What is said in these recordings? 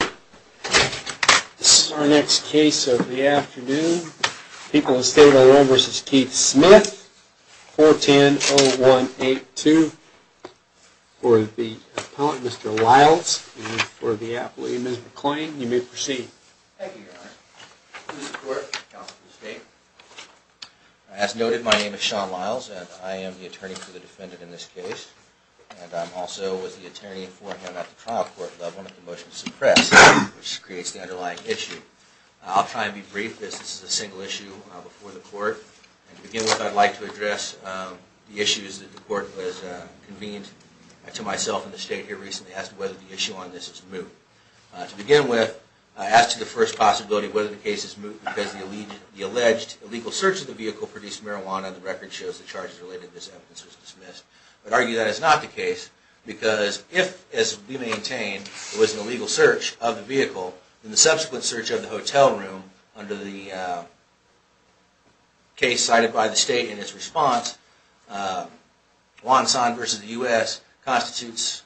This is our next case of the afternoon. People of the State of Illinois v. Keith Smith, 410-0182. For the appellant, Mr. Lyles, and for the appellee, Ms. McClain, you may proceed. Thank you, Your Honor. Mr. Court, Counsel for the State. As noted, my name is Sean Lyles, and I am the attorney for the defendant in this case, and I'm also with the attorney at the trial court level at the motion to suppress, which creates the underlying issue. I'll try and be brief as this is a single issue before the court. To begin with, I'd like to address the issues that the court has convened to myself and the State here recently as to whether the issue on this is moot. To begin with, as to the first possibility, whether the case is moot because the alleged illegal search of the vehicle produced marijuana, the record shows the charges related to this evidence was dismissed. I'd argue that is not the case because if, as we maintain, it was an illegal search of the vehicle, then the subsequent search of the hotel room under the case cited by the State in its response, Wonsan v. U.S., constitutes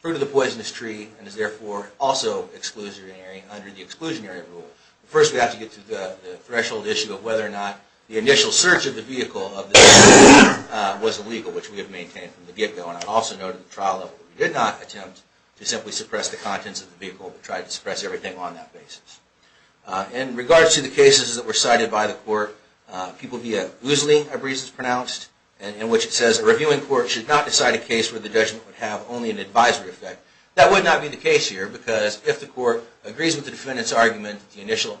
fruit of the poisonous tree and is therefore also exclusionary under the exclusionary rule. First, we have to get to the threshold issue of whether or not the initial search of the vehicle was illegal, which we have maintained from the get-go. And I'd also note at the trial level that we did not attempt to simply suppress the contents of the vehicle, but tried to suppress everything on that basis. In regards to the cases that were cited by the court, people view it loosely of reasons pronounced, in which it says a reviewing court should not decide a case where the judgment would have only an advisory effect. That would not be the case here because if the court agrees with the defendant's argument that the initial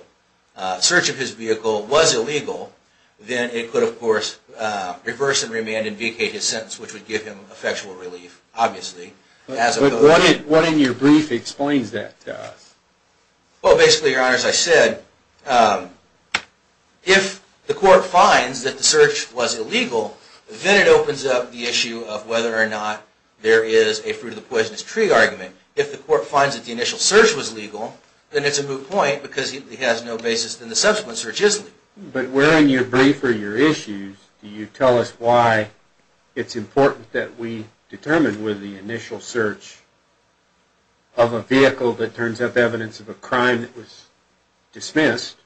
search of his vehicle was illegal, then it could, of course, reverse and remand and vacate his sentence, which would give him effectual relief, obviously. But what in your brief explains that to us? Well, basically, Your Honor, as I said, if the court finds that the search was illegal, then it opens up the issue of whether or not there is a fruit of the poisonous tree argument. If the court finds that the initial search was legal, then it's a moot point because it has no basis in the subsequent search's legality. But where in your brief are your issues? Do you tell us why it's important that we determine whether the initial search of a vehicle that turns up evidence of a crime that was dismissed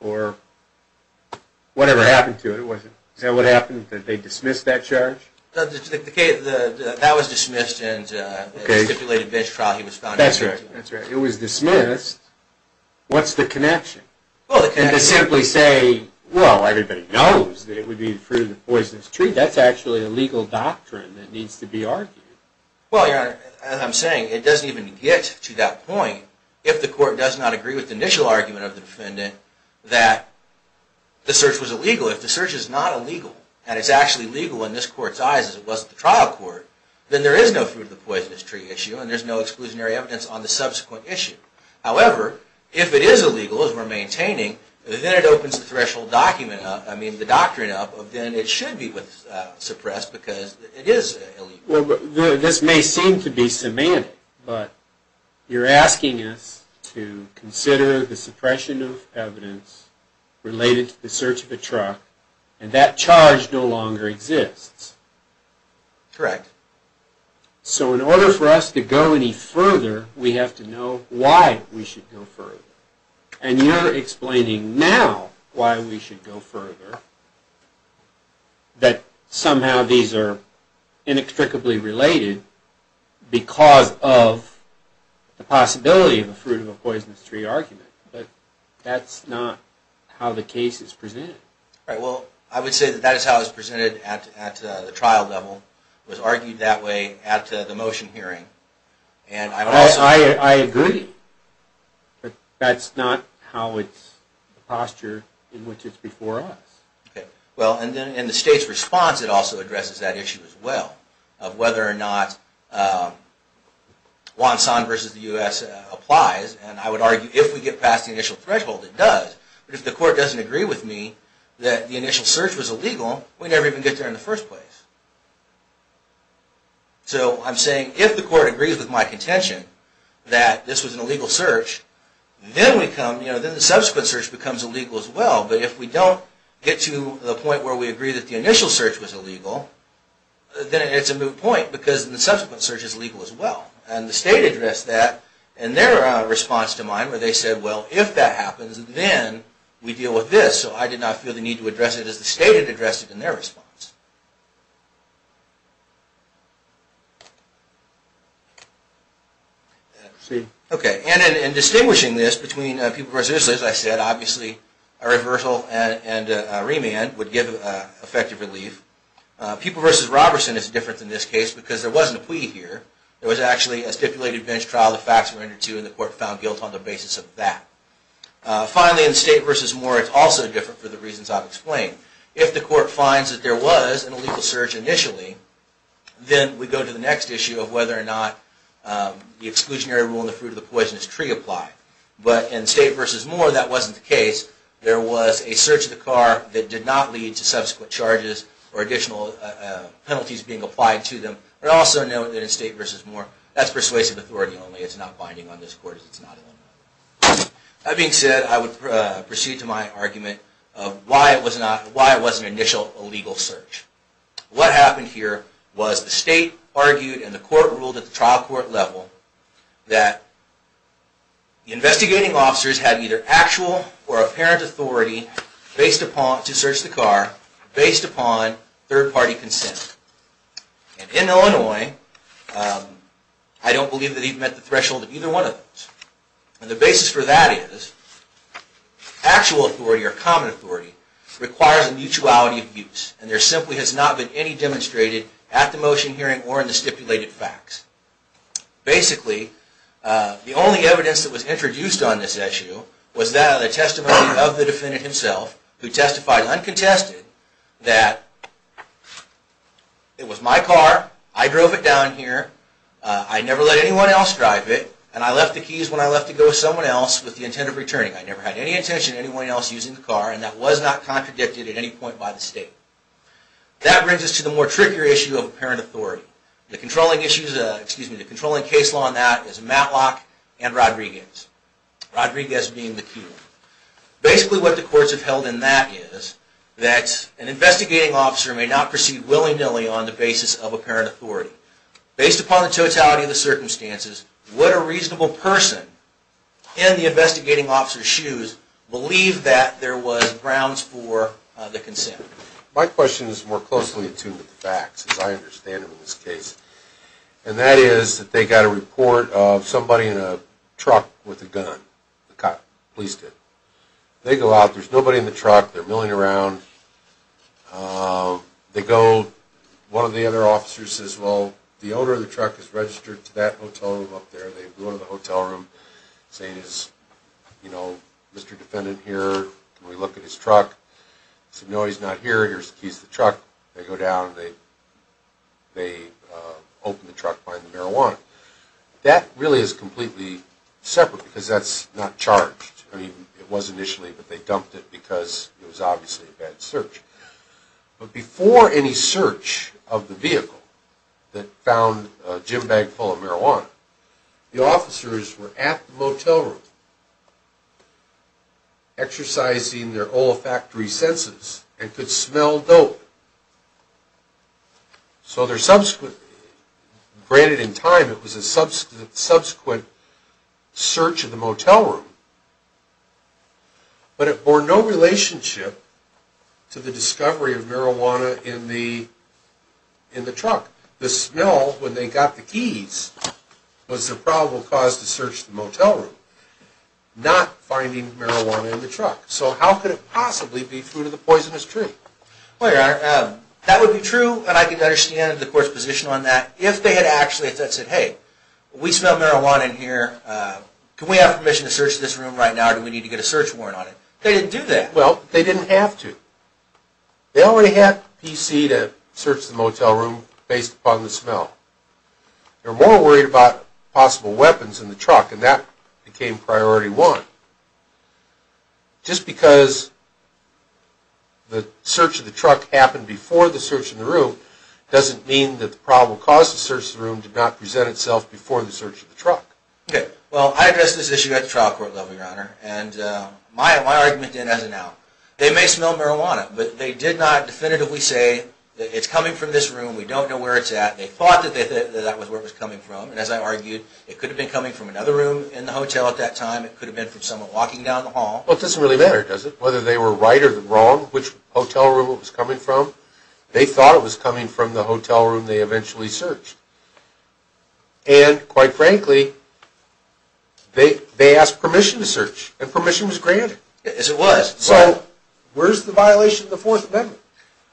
or whatever happened to it? Is that what happened, that they dismissed that charge? That was dismissed in the stipulated bench trial he was found guilty of. It was dismissed. What's the connection? Well, the connection is to simply say, well, everybody knows that it would be the fruit of the poisonous tree. That's actually a legal doctrine that needs to be argued. Well, Your Honor, as I'm saying, it doesn't even get to that point if the court does not agree with the initial argument of the defendant that the search was illegal. If the search is not illegal, and it's actually legal in this court's eyes as it was in the trial court, then there is no fruit of the poisonous tree issue, and there's no exclusionary evidence on the subsequent issue. However, if it is illegal, as we're maintaining, then it opens the threshold document up, I mean the doctrine up, of then it should be suppressed because it is illegal. Well, this may seem to be semantic, but you're asking us to consider the suppression of evidence related to the search of a truck, and that charge no longer exists. Correct. So in order for us to go any further, we have to know why we should go further. And you're explaining now why we should go further, that somehow these are inextricably related because of the possibility of a fruit of a poisonous tree argument, but that's not how the case is presented. Right, well, I would say that that is how it's presented at the trial level. It was argued that way at the motion hearing. I agree, but that's not how it's postured in which it's before us. Well, and then in the state's response, it also addresses that issue as well, of whether or not Wonsan v. the U.S. applies, and I would argue if we get past the initial threshold, it does. But if the court doesn't agree with me that the initial search was illegal, we never even get there in the first place. So I'm saying if the court agrees with my contention that this was an illegal search, then the subsequent search becomes illegal as well. But if we don't get to the point where we agree that the initial search was illegal, then it's a moot point because the subsequent search is illegal as well. And the state addressed that in their response to mine where they said, well, if that happens, then we deal with this. So I did not feel the need to address it as the state had addressed it in their response. And in distinguishing this between People v. Isley, as I said, obviously a reversal and a remand would give effective relief. People v. Robertson is different in this case because there wasn't a plea here. There was actually a stipulated bench trial, the facts were entered to, and the court found guilt on the basis of that. Finally, in State v. Moore, it's also different for the reasons I've explained. If the court finds that there was an illegal search initially, then we go to the next issue of whether or not the exclusionary rule and the fruit of the poisonous tree apply. But in State v. Moore, that wasn't the case. There was a search of the car that did not lead to subsequent charges or additional penalties being applied to them. But also note that in State v. Moore, that's persuasive authority only. It's not binding on this court. That being said, I would proceed to my argument of why it was an initial illegal search. What happened here was the state argued and the court ruled at the trial court level that the investigating officers had either actual or apparent authority to search the car based upon third-party consent. And in Illinois, I don't believe that he'd met the threshold of either one of those. And the basis for that is actual authority or common authority requires a mutuality of views. And there simply has not been any demonstrated at the motion hearing or in the stipulated facts. Basically, the only evidence that was introduced on this issue was that of the testimony of the defendant himself, who testified uncontested that it was my car. I drove it down here. I never let anyone else drive it. And I left the keys when I left to go with someone else with the intent of returning. I never had any intention of anyone else using the car. And that was not contradicted at any point by the state. That brings us to the more trickier issue of apparent authority. The controlling case law on that is Matlock and Rodriguez, Rodriguez being the key one. Basically, what the courts have held in that is that an investigating officer may not proceed willy-nilly on the basis of apparent authority. Based upon the totality of the circumstances, would a reasonable person in the investigating officer's shoes believe that there was grounds for the consent? My question is more closely attuned to the facts, as I understand it in this case. And that is that they got a report of somebody in a truck with a gun. The police did. They go out. There's nobody in the truck. They're milling around. They go. One of the other officers says, well, the owner of the truck is registered to that hotel room up there. They go to the hotel room, saying, is, you know, Mr. Defendant here? Can we look at his truck? He said, no, he's not here. Here's the keys to the truck. They go down. They open the truck, find the marijuana. That really is completely separate because that's not charged. I mean, it was initially, but they dumped it because it was obviously a bad search. But before any search of the vehicle that found a gym bag full of marijuana, the officers were at the motel room exercising their olfactory senses and could smell dope. So their subsequent, granted in time it was a subsequent search of the motel room, but it bore no relationship to the discovery of marijuana in the truck. The smell, when they got the keys, was the probable cause to search the motel room, not finding marijuana in the truck. So how could it possibly be through to the poisonous tree? Well, Your Honor, that would be true, and I can understand the court's position on that, if they had actually said, hey, we smell marijuana in here. Can we have permission to search this room right now, or do we need to get a search warrant on it? They didn't do that. Well, they didn't have to. They already had the PC to search the motel room based upon the smell. They were more worried about possible weapons in the truck, and that became priority one. Just because the search of the truck happened before the search of the room doesn't mean that the probable cause to search the room did not present itself before the search of the truck. Okay, well, I addressed this issue at the trial court level, Your Honor, and my argument then as of now, they may smell marijuana, but they did not definitively say, it's coming from this room, we don't know where it's at. They thought that that was where it was coming from, and as I argued, it could have been coming from another room in the hotel at that time, it could have been from someone walking down the hall. Well, it doesn't really matter, does it? Whether they were right or wrong, which hotel room it was coming from, they thought it was coming from the hotel room they eventually searched. And, quite frankly, they asked permission to search, and permission was granted. Yes, it was. So, where's the violation of the Fourth Amendment?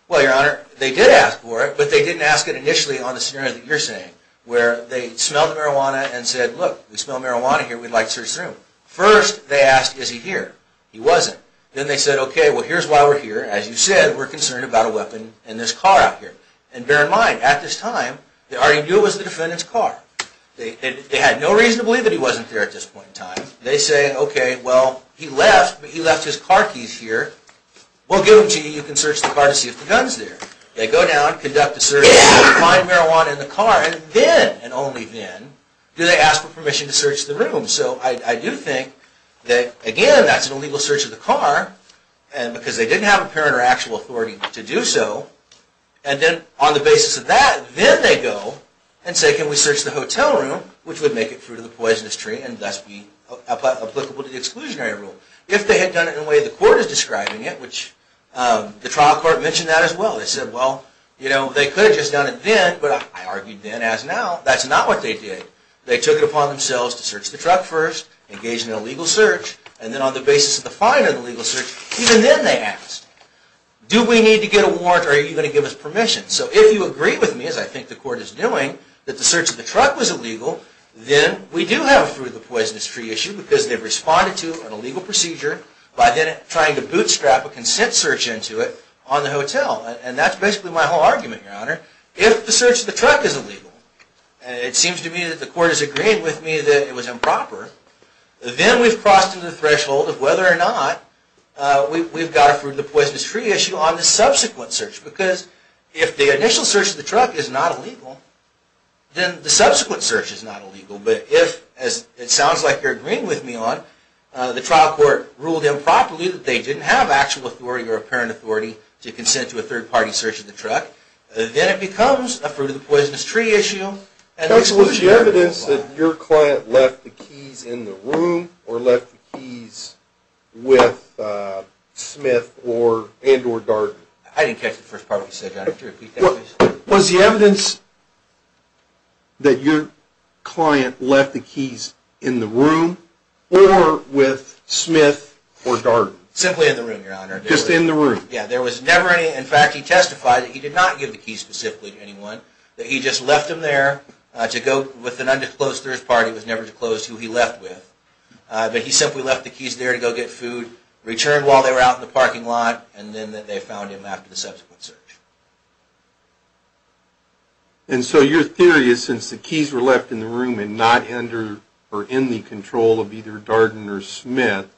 Well, Your Honor, they did ask for it, but they didn't ask it initially on the scenario that you're saying, where they smelled marijuana and said, look, we smell marijuana here, we'd like to search this room. First, they asked, is he here? He wasn't. Then they said, okay, well, here's why we're here. As you said, we're concerned about a weapon in this car out here. And bear in mind, at this time, they already knew it was the defendant's car. They had no reason to believe that he wasn't there at this point in time. They say, okay, well, he left, but he left his car keys here. We'll give them to you, you can search the car to see if the gun's there. They go down, conduct a search, find marijuana in the car, and then, and only then, do they ask for permission to search the room. So, I do think that, again, that's an illegal search of the car, because they didn't have apparent or actual authority to do so. And then, on the basis of that, then they go and say, can we search the hotel room, which would make it fruit of the poisonous tree and thus be applicable to the exclusionary rule. If they had done it in the way the court is describing it, which the trial court mentioned that as well, they said, well, you know, they could have just done it then, but I argued then as now, that's not what they did. They took it upon themselves to search the truck first, engage in an illegal search, and then on the basis of the fine of the legal search, even then they asked, do we need to get a warrant or are you going to give us permission? So, if you agree with me, as I think the court is doing, that the search of the truck was illegal, then we do have a fruit of the poisonous tree issue, because they've responded to an illegal procedure by then trying to bootstrap a consent search into it on the hotel. And that's basically my whole argument, Your Honor. If the search of the truck is illegal, and it seems to me that the court has agreed with me that it was improper, then we've crossed to the threshold of whether or not we've got a fruit of the poisonous tree issue on the subsequent search. Because if the initial search of the truck is not illegal, then the subsequent search is not illegal. But if, as it sounds like you're agreeing with me on, the trial court ruled improperly that they didn't have actual authority or apparent authority to consent to a third-party search of the truck, then it becomes a fruit of the poisonous tree issue. Counsel, was the evidence that your client left the keys in the room, or left the keys with Smith and or Darden? I didn't catch the first part of what you said, Your Honor. Could you repeat that, please? Was the evidence that your client left the keys in the room, or with Smith or Darden? Simply in the room, Your Honor. Just in the room? Yeah, there was never any. In fact, he testified that he did not give the keys specifically to anyone. That he just left them there to go with an undisclosed third-party who was never disclosed who he left with. But he simply left the keys there to go get food, returned while they were out in the parking lot, and then that they found him after the subsequent search. And so your theory is since the keys were left in the room and not under or in the control of either Darden or Smith,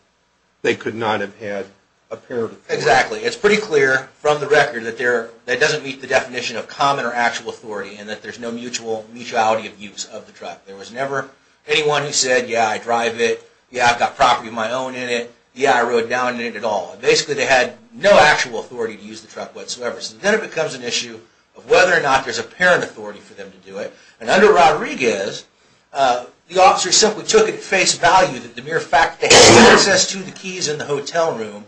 they could not have had apparent authority? Exactly. It's pretty clear from the record that that doesn't meet the definition of common or actual authority, and that there's no mutuality of use of the truck. There was never anyone who said, Yeah, I drive it. Yeah, I've got property of my own in it. Yeah, I rode down in it at all. Basically, they had no actual authority to use the truck whatsoever. So then it becomes an issue of whether or not there's apparent authority for them to do it. And under Rodriguez, the officer simply took it at face value that the mere fact that he had access to the keys in the hotel room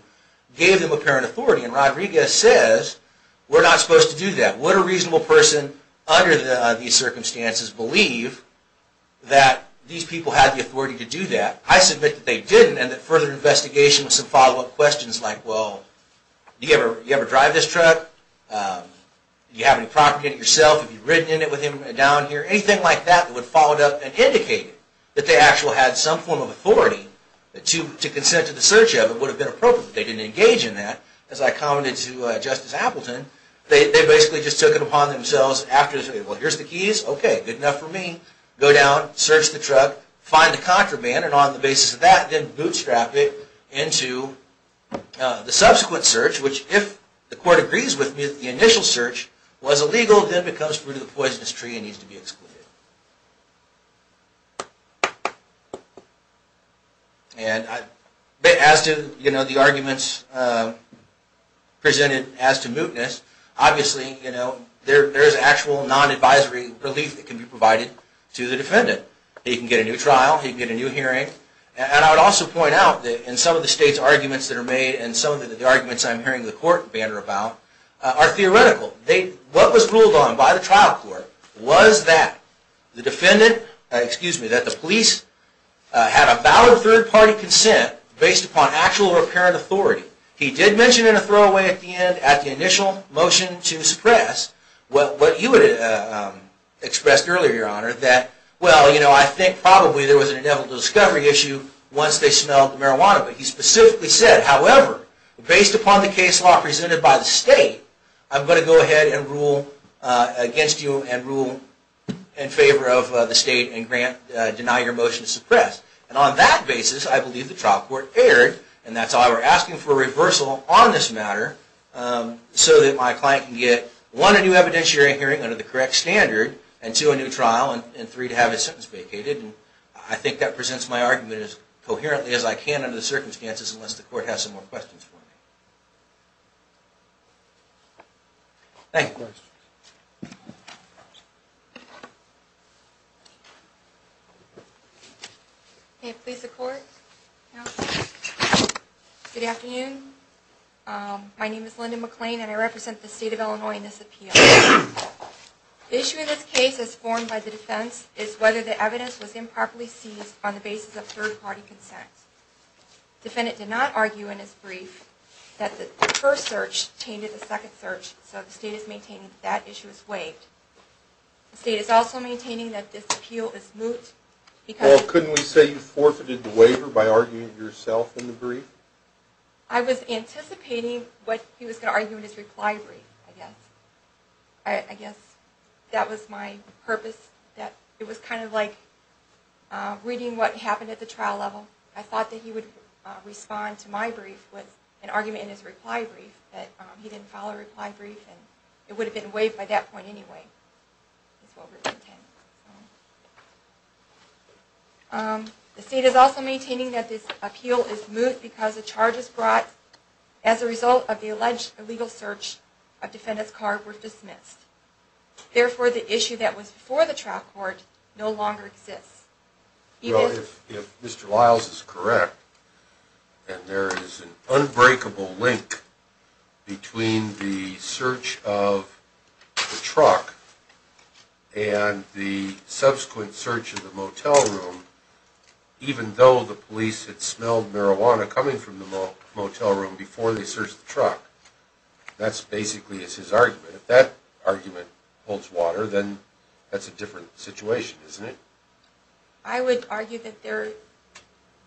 gave them apparent authority. And Rodriguez says, We're not supposed to do that. What a reasonable person under these circumstances believe that these people had the authority to do that. I submit that they didn't, and that further investigation with some follow-up questions like, Well, do you ever drive this truck? Do you have any property in it yourself? Have you ridden in it with him down here? Anything like that that would have followed up and indicated that they actually had some form of authority to consent to the search of it would have been appropriate. They didn't engage in that. As I commented to Justice Appleton, they basically just took it upon themselves after they said, Well, here's the keys. OK, good enough for me. Go down, search the truck, find the contraband. And on the basis of that, then bootstrap it into the subsequent search, which if the court agrees with me that the initial search was illegal, then it becomes fruit of the poisonous tree and needs to be excluded. And as to the arguments presented as to mootness, obviously there is actual non-advisory relief that can be provided to the defendant. He can get a new trial. He can get a new hearing. And I would also point out that in some of the state's arguments that are made and some of the arguments I'm hearing the court banter about are theoretical. What was ruled on by the trial court was that the police had a valid third-party consent based upon actual apparent authority. He did mention in a throwaway at the end at the initial motion to suppress what you had expressed earlier, Your Honor, that, well, you know, I think probably there was an inevitable discovery issue once they smelled the marijuana. But he specifically said, however, based upon the case law presented by the state, I'm going to go ahead and rule against you and rule in favor of the state and deny your motion to suppress. And on that basis, I believe the trial court erred, and that's why we're asking for a reversal on this matter so that my client can get, one, a new evidentiary hearing under the correct standard, and two, a new trial, and three, to have his sentence vacated. I think that presents my argument as coherently as I can under the circumstances unless the court has some more questions for me. Thank you. May it please the court? Good afternoon. My name is Linda McClain, and I represent the state of Illinois in this appeal. The issue in this case as formed by the defense is whether the evidence was improperly seized on the basis of third-party consent. The defendant did not argue in his brief that the first search tainted the second search, so the state is maintaining that that issue is waived. The state is also maintaining that this appeal is moot because... Well, couldn't we say you forfeited the waiver by arguing it yourself in the brief? I was anticipating what he was going to argue in his reply brief, I guess. I guess that was my purpose, that it was kind of like reading what happened at the trial level. I thought that he would respond to my brief with an argument in his reply brief, but he didn't file a reply brief, and it would have been waived by that point anyway. The state is also maintaining that this appeal is moot because the charges brought as a result of the alleged illegal search of defendant's card were dismissed. Therefore, the issue that was before the trial court no longer exists. If Mr. Lyles is correct, and there is an unbreakable link between the search of the truck and the subsequent search of the motel room, even though the police had smelled marijuana coming from the motel room before they searched the truck, that basically is his argument. If that argument holds water, then that's a different situation, isn't it? I would argue that there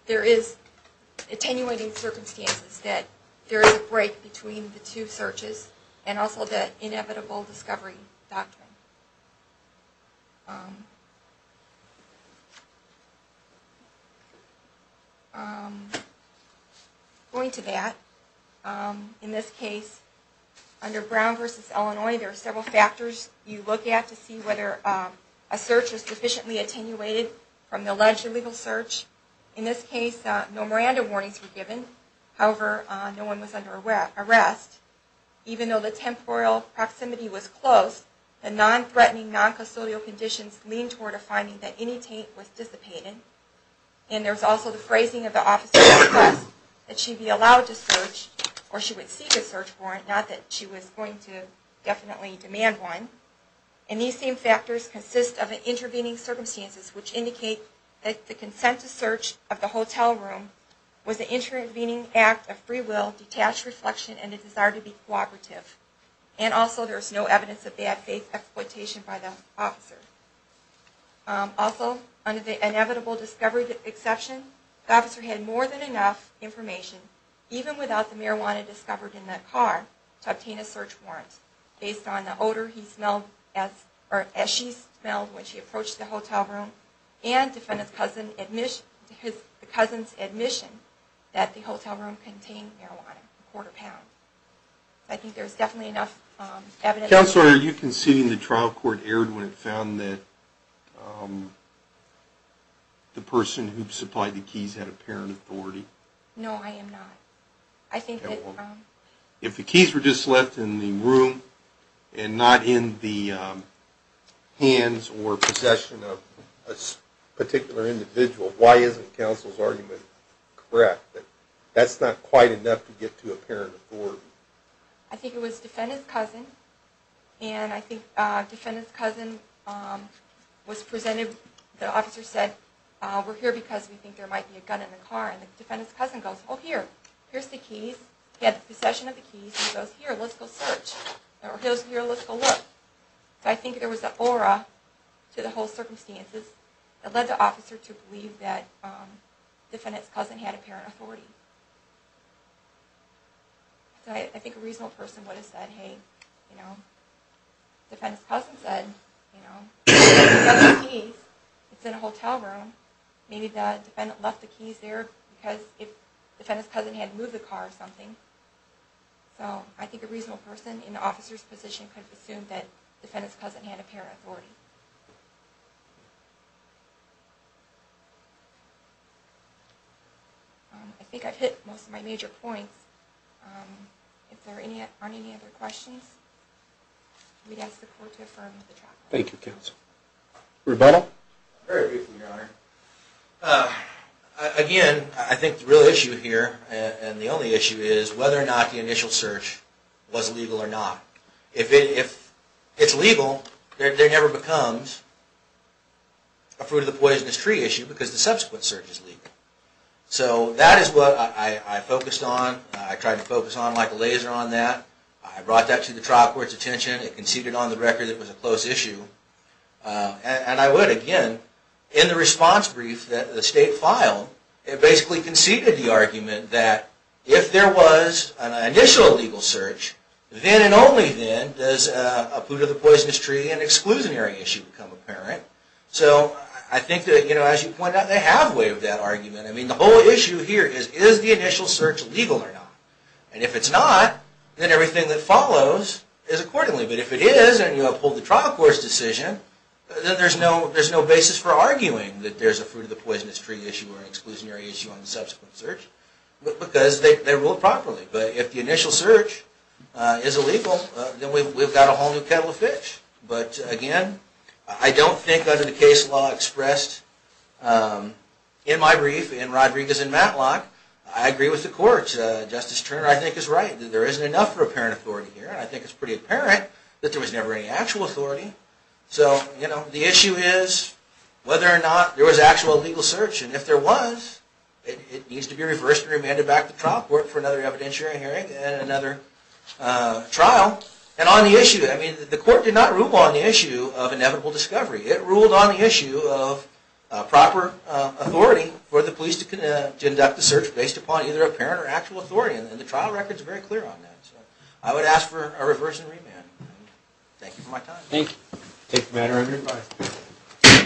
is attenuating circumstances, that there is a break between the two searches and also the inevitable discovery doctrine. Going to that, in this case, under Brown v. Illinois, there are several factors you look at to see whether a search is sufficiently attenuated from the alleged illegal search. In this case, no Miranda warnings were given. However, no one was under arrest. Even though the temporal proximity was close, non-custodial conditions leaned toward a finding that any taint was dissipated. And there was also the phrasing of the officer's request that she be allowed to search, or she would seek a search warrant, not that she was going to definitely demand one. And these same factors consist of an intervening circumstances, which indicate that the consent to search of the hotel room was an intervening act of free will, detached reflection, and a desire to be cooperative. And also, there is no evidence of bad faith exploitation by the officer. Also, under the inevitable discovery exception, the officer had more than enough information, even without the marijuana discovered in the car, to obtain a search warrant, based on the odor he smelled, or as she smelled when she approached the hotel room, and the cousin's admission that the hotel room contained marijuana, a quarter pound. I think there's definitely enough evidence... Counselor, are you conceding the trial court erred when it found that the person who supplied the keys had apparent authority? No, I am not. I think that... If the keys were just left in the room, and not in the hands or possession of a particular individual, why isn't counsel's argument correct that that's not quite enough to get to apparent authority? I think it was defendant's cousin, and I think defendant's cousin was presented... The officer said, we're here because we think there might be a gun in the car, and the defendant's cousin goes, oh, here, here's the keys. He had the possession of the keys, and he goes, here, let's go search. Or he goes, here, let's go look. So I think there was an aura to the whole circumstances that led the officer to believe that defendant's cousin had apparent authority. So I think a reasonable person would have said, hey, defendant's cousin said, he's got the keys, it's in a hotel room, maybe the defendant left the keys there because defendant's cousin had moved the car or something. So I think a reasonable person in the officer's position could have assumed that defendant's cousin had apparent authority. I think I've hit most of my major points. If there aren't any other questions, we'd ask the court to affirm the track record. Thank you, counsel. Rebuttal? Very briefly, Your Honor. Again, I think the real issue here, and the only issue, is whether or not the initial search was legal or not. If it's legal, there never becomes a fruit-of-the-poisonous-tree issue because the subsequent search is legal. So that is what I focused on. I tried to focus on like a laser on that. I brought that to the trial court's attention. It conceded on the record it was a close issue. And I would, again, in the response brief that the state filed, it basically conceded the argument that if there was an initial legal search, then and only then does a fruit-of-the-poisonous-tree and exclusionary issue become apparent. So I think that, as you pointed out, they have waived that argument. I mean, the whole issue here is, is the initial search legal or not? And if it's not, then everything that follows is accordingly. But if it is, and you uphold the trial court's decision, then there's no basis for arguing that there's a fruit-of-the-poisonous-tree issue or an exclusionary issue on the subsequent search, because they ruled properly. But if the initial search is illegal, then we've got a whole new kettle of fish. But, again, I don't think under the case law expressed in my brief, in Rodriguez and Matlock, I agree with the court. Justice Turner, I think, is right. There isn't enough for apparent authority here. And I think it's pretty apparent that there was never any actual authority. So, you know, the issue is whether or not there was actual legal search. And if there was, it needs to be reversed and remanded back to trial court for another evidentiary hearing and another trial. And on the issue, I mean, the court did not rule on the issue of inevitable discovery. It ruled on the issue of proper authority for the police to conduct the search based upon either apparent or actual authority. And the trial record's very clear on that. So I would ask for a reverse and remand. Thank you for my time. Thank you. I take the manner of your advice.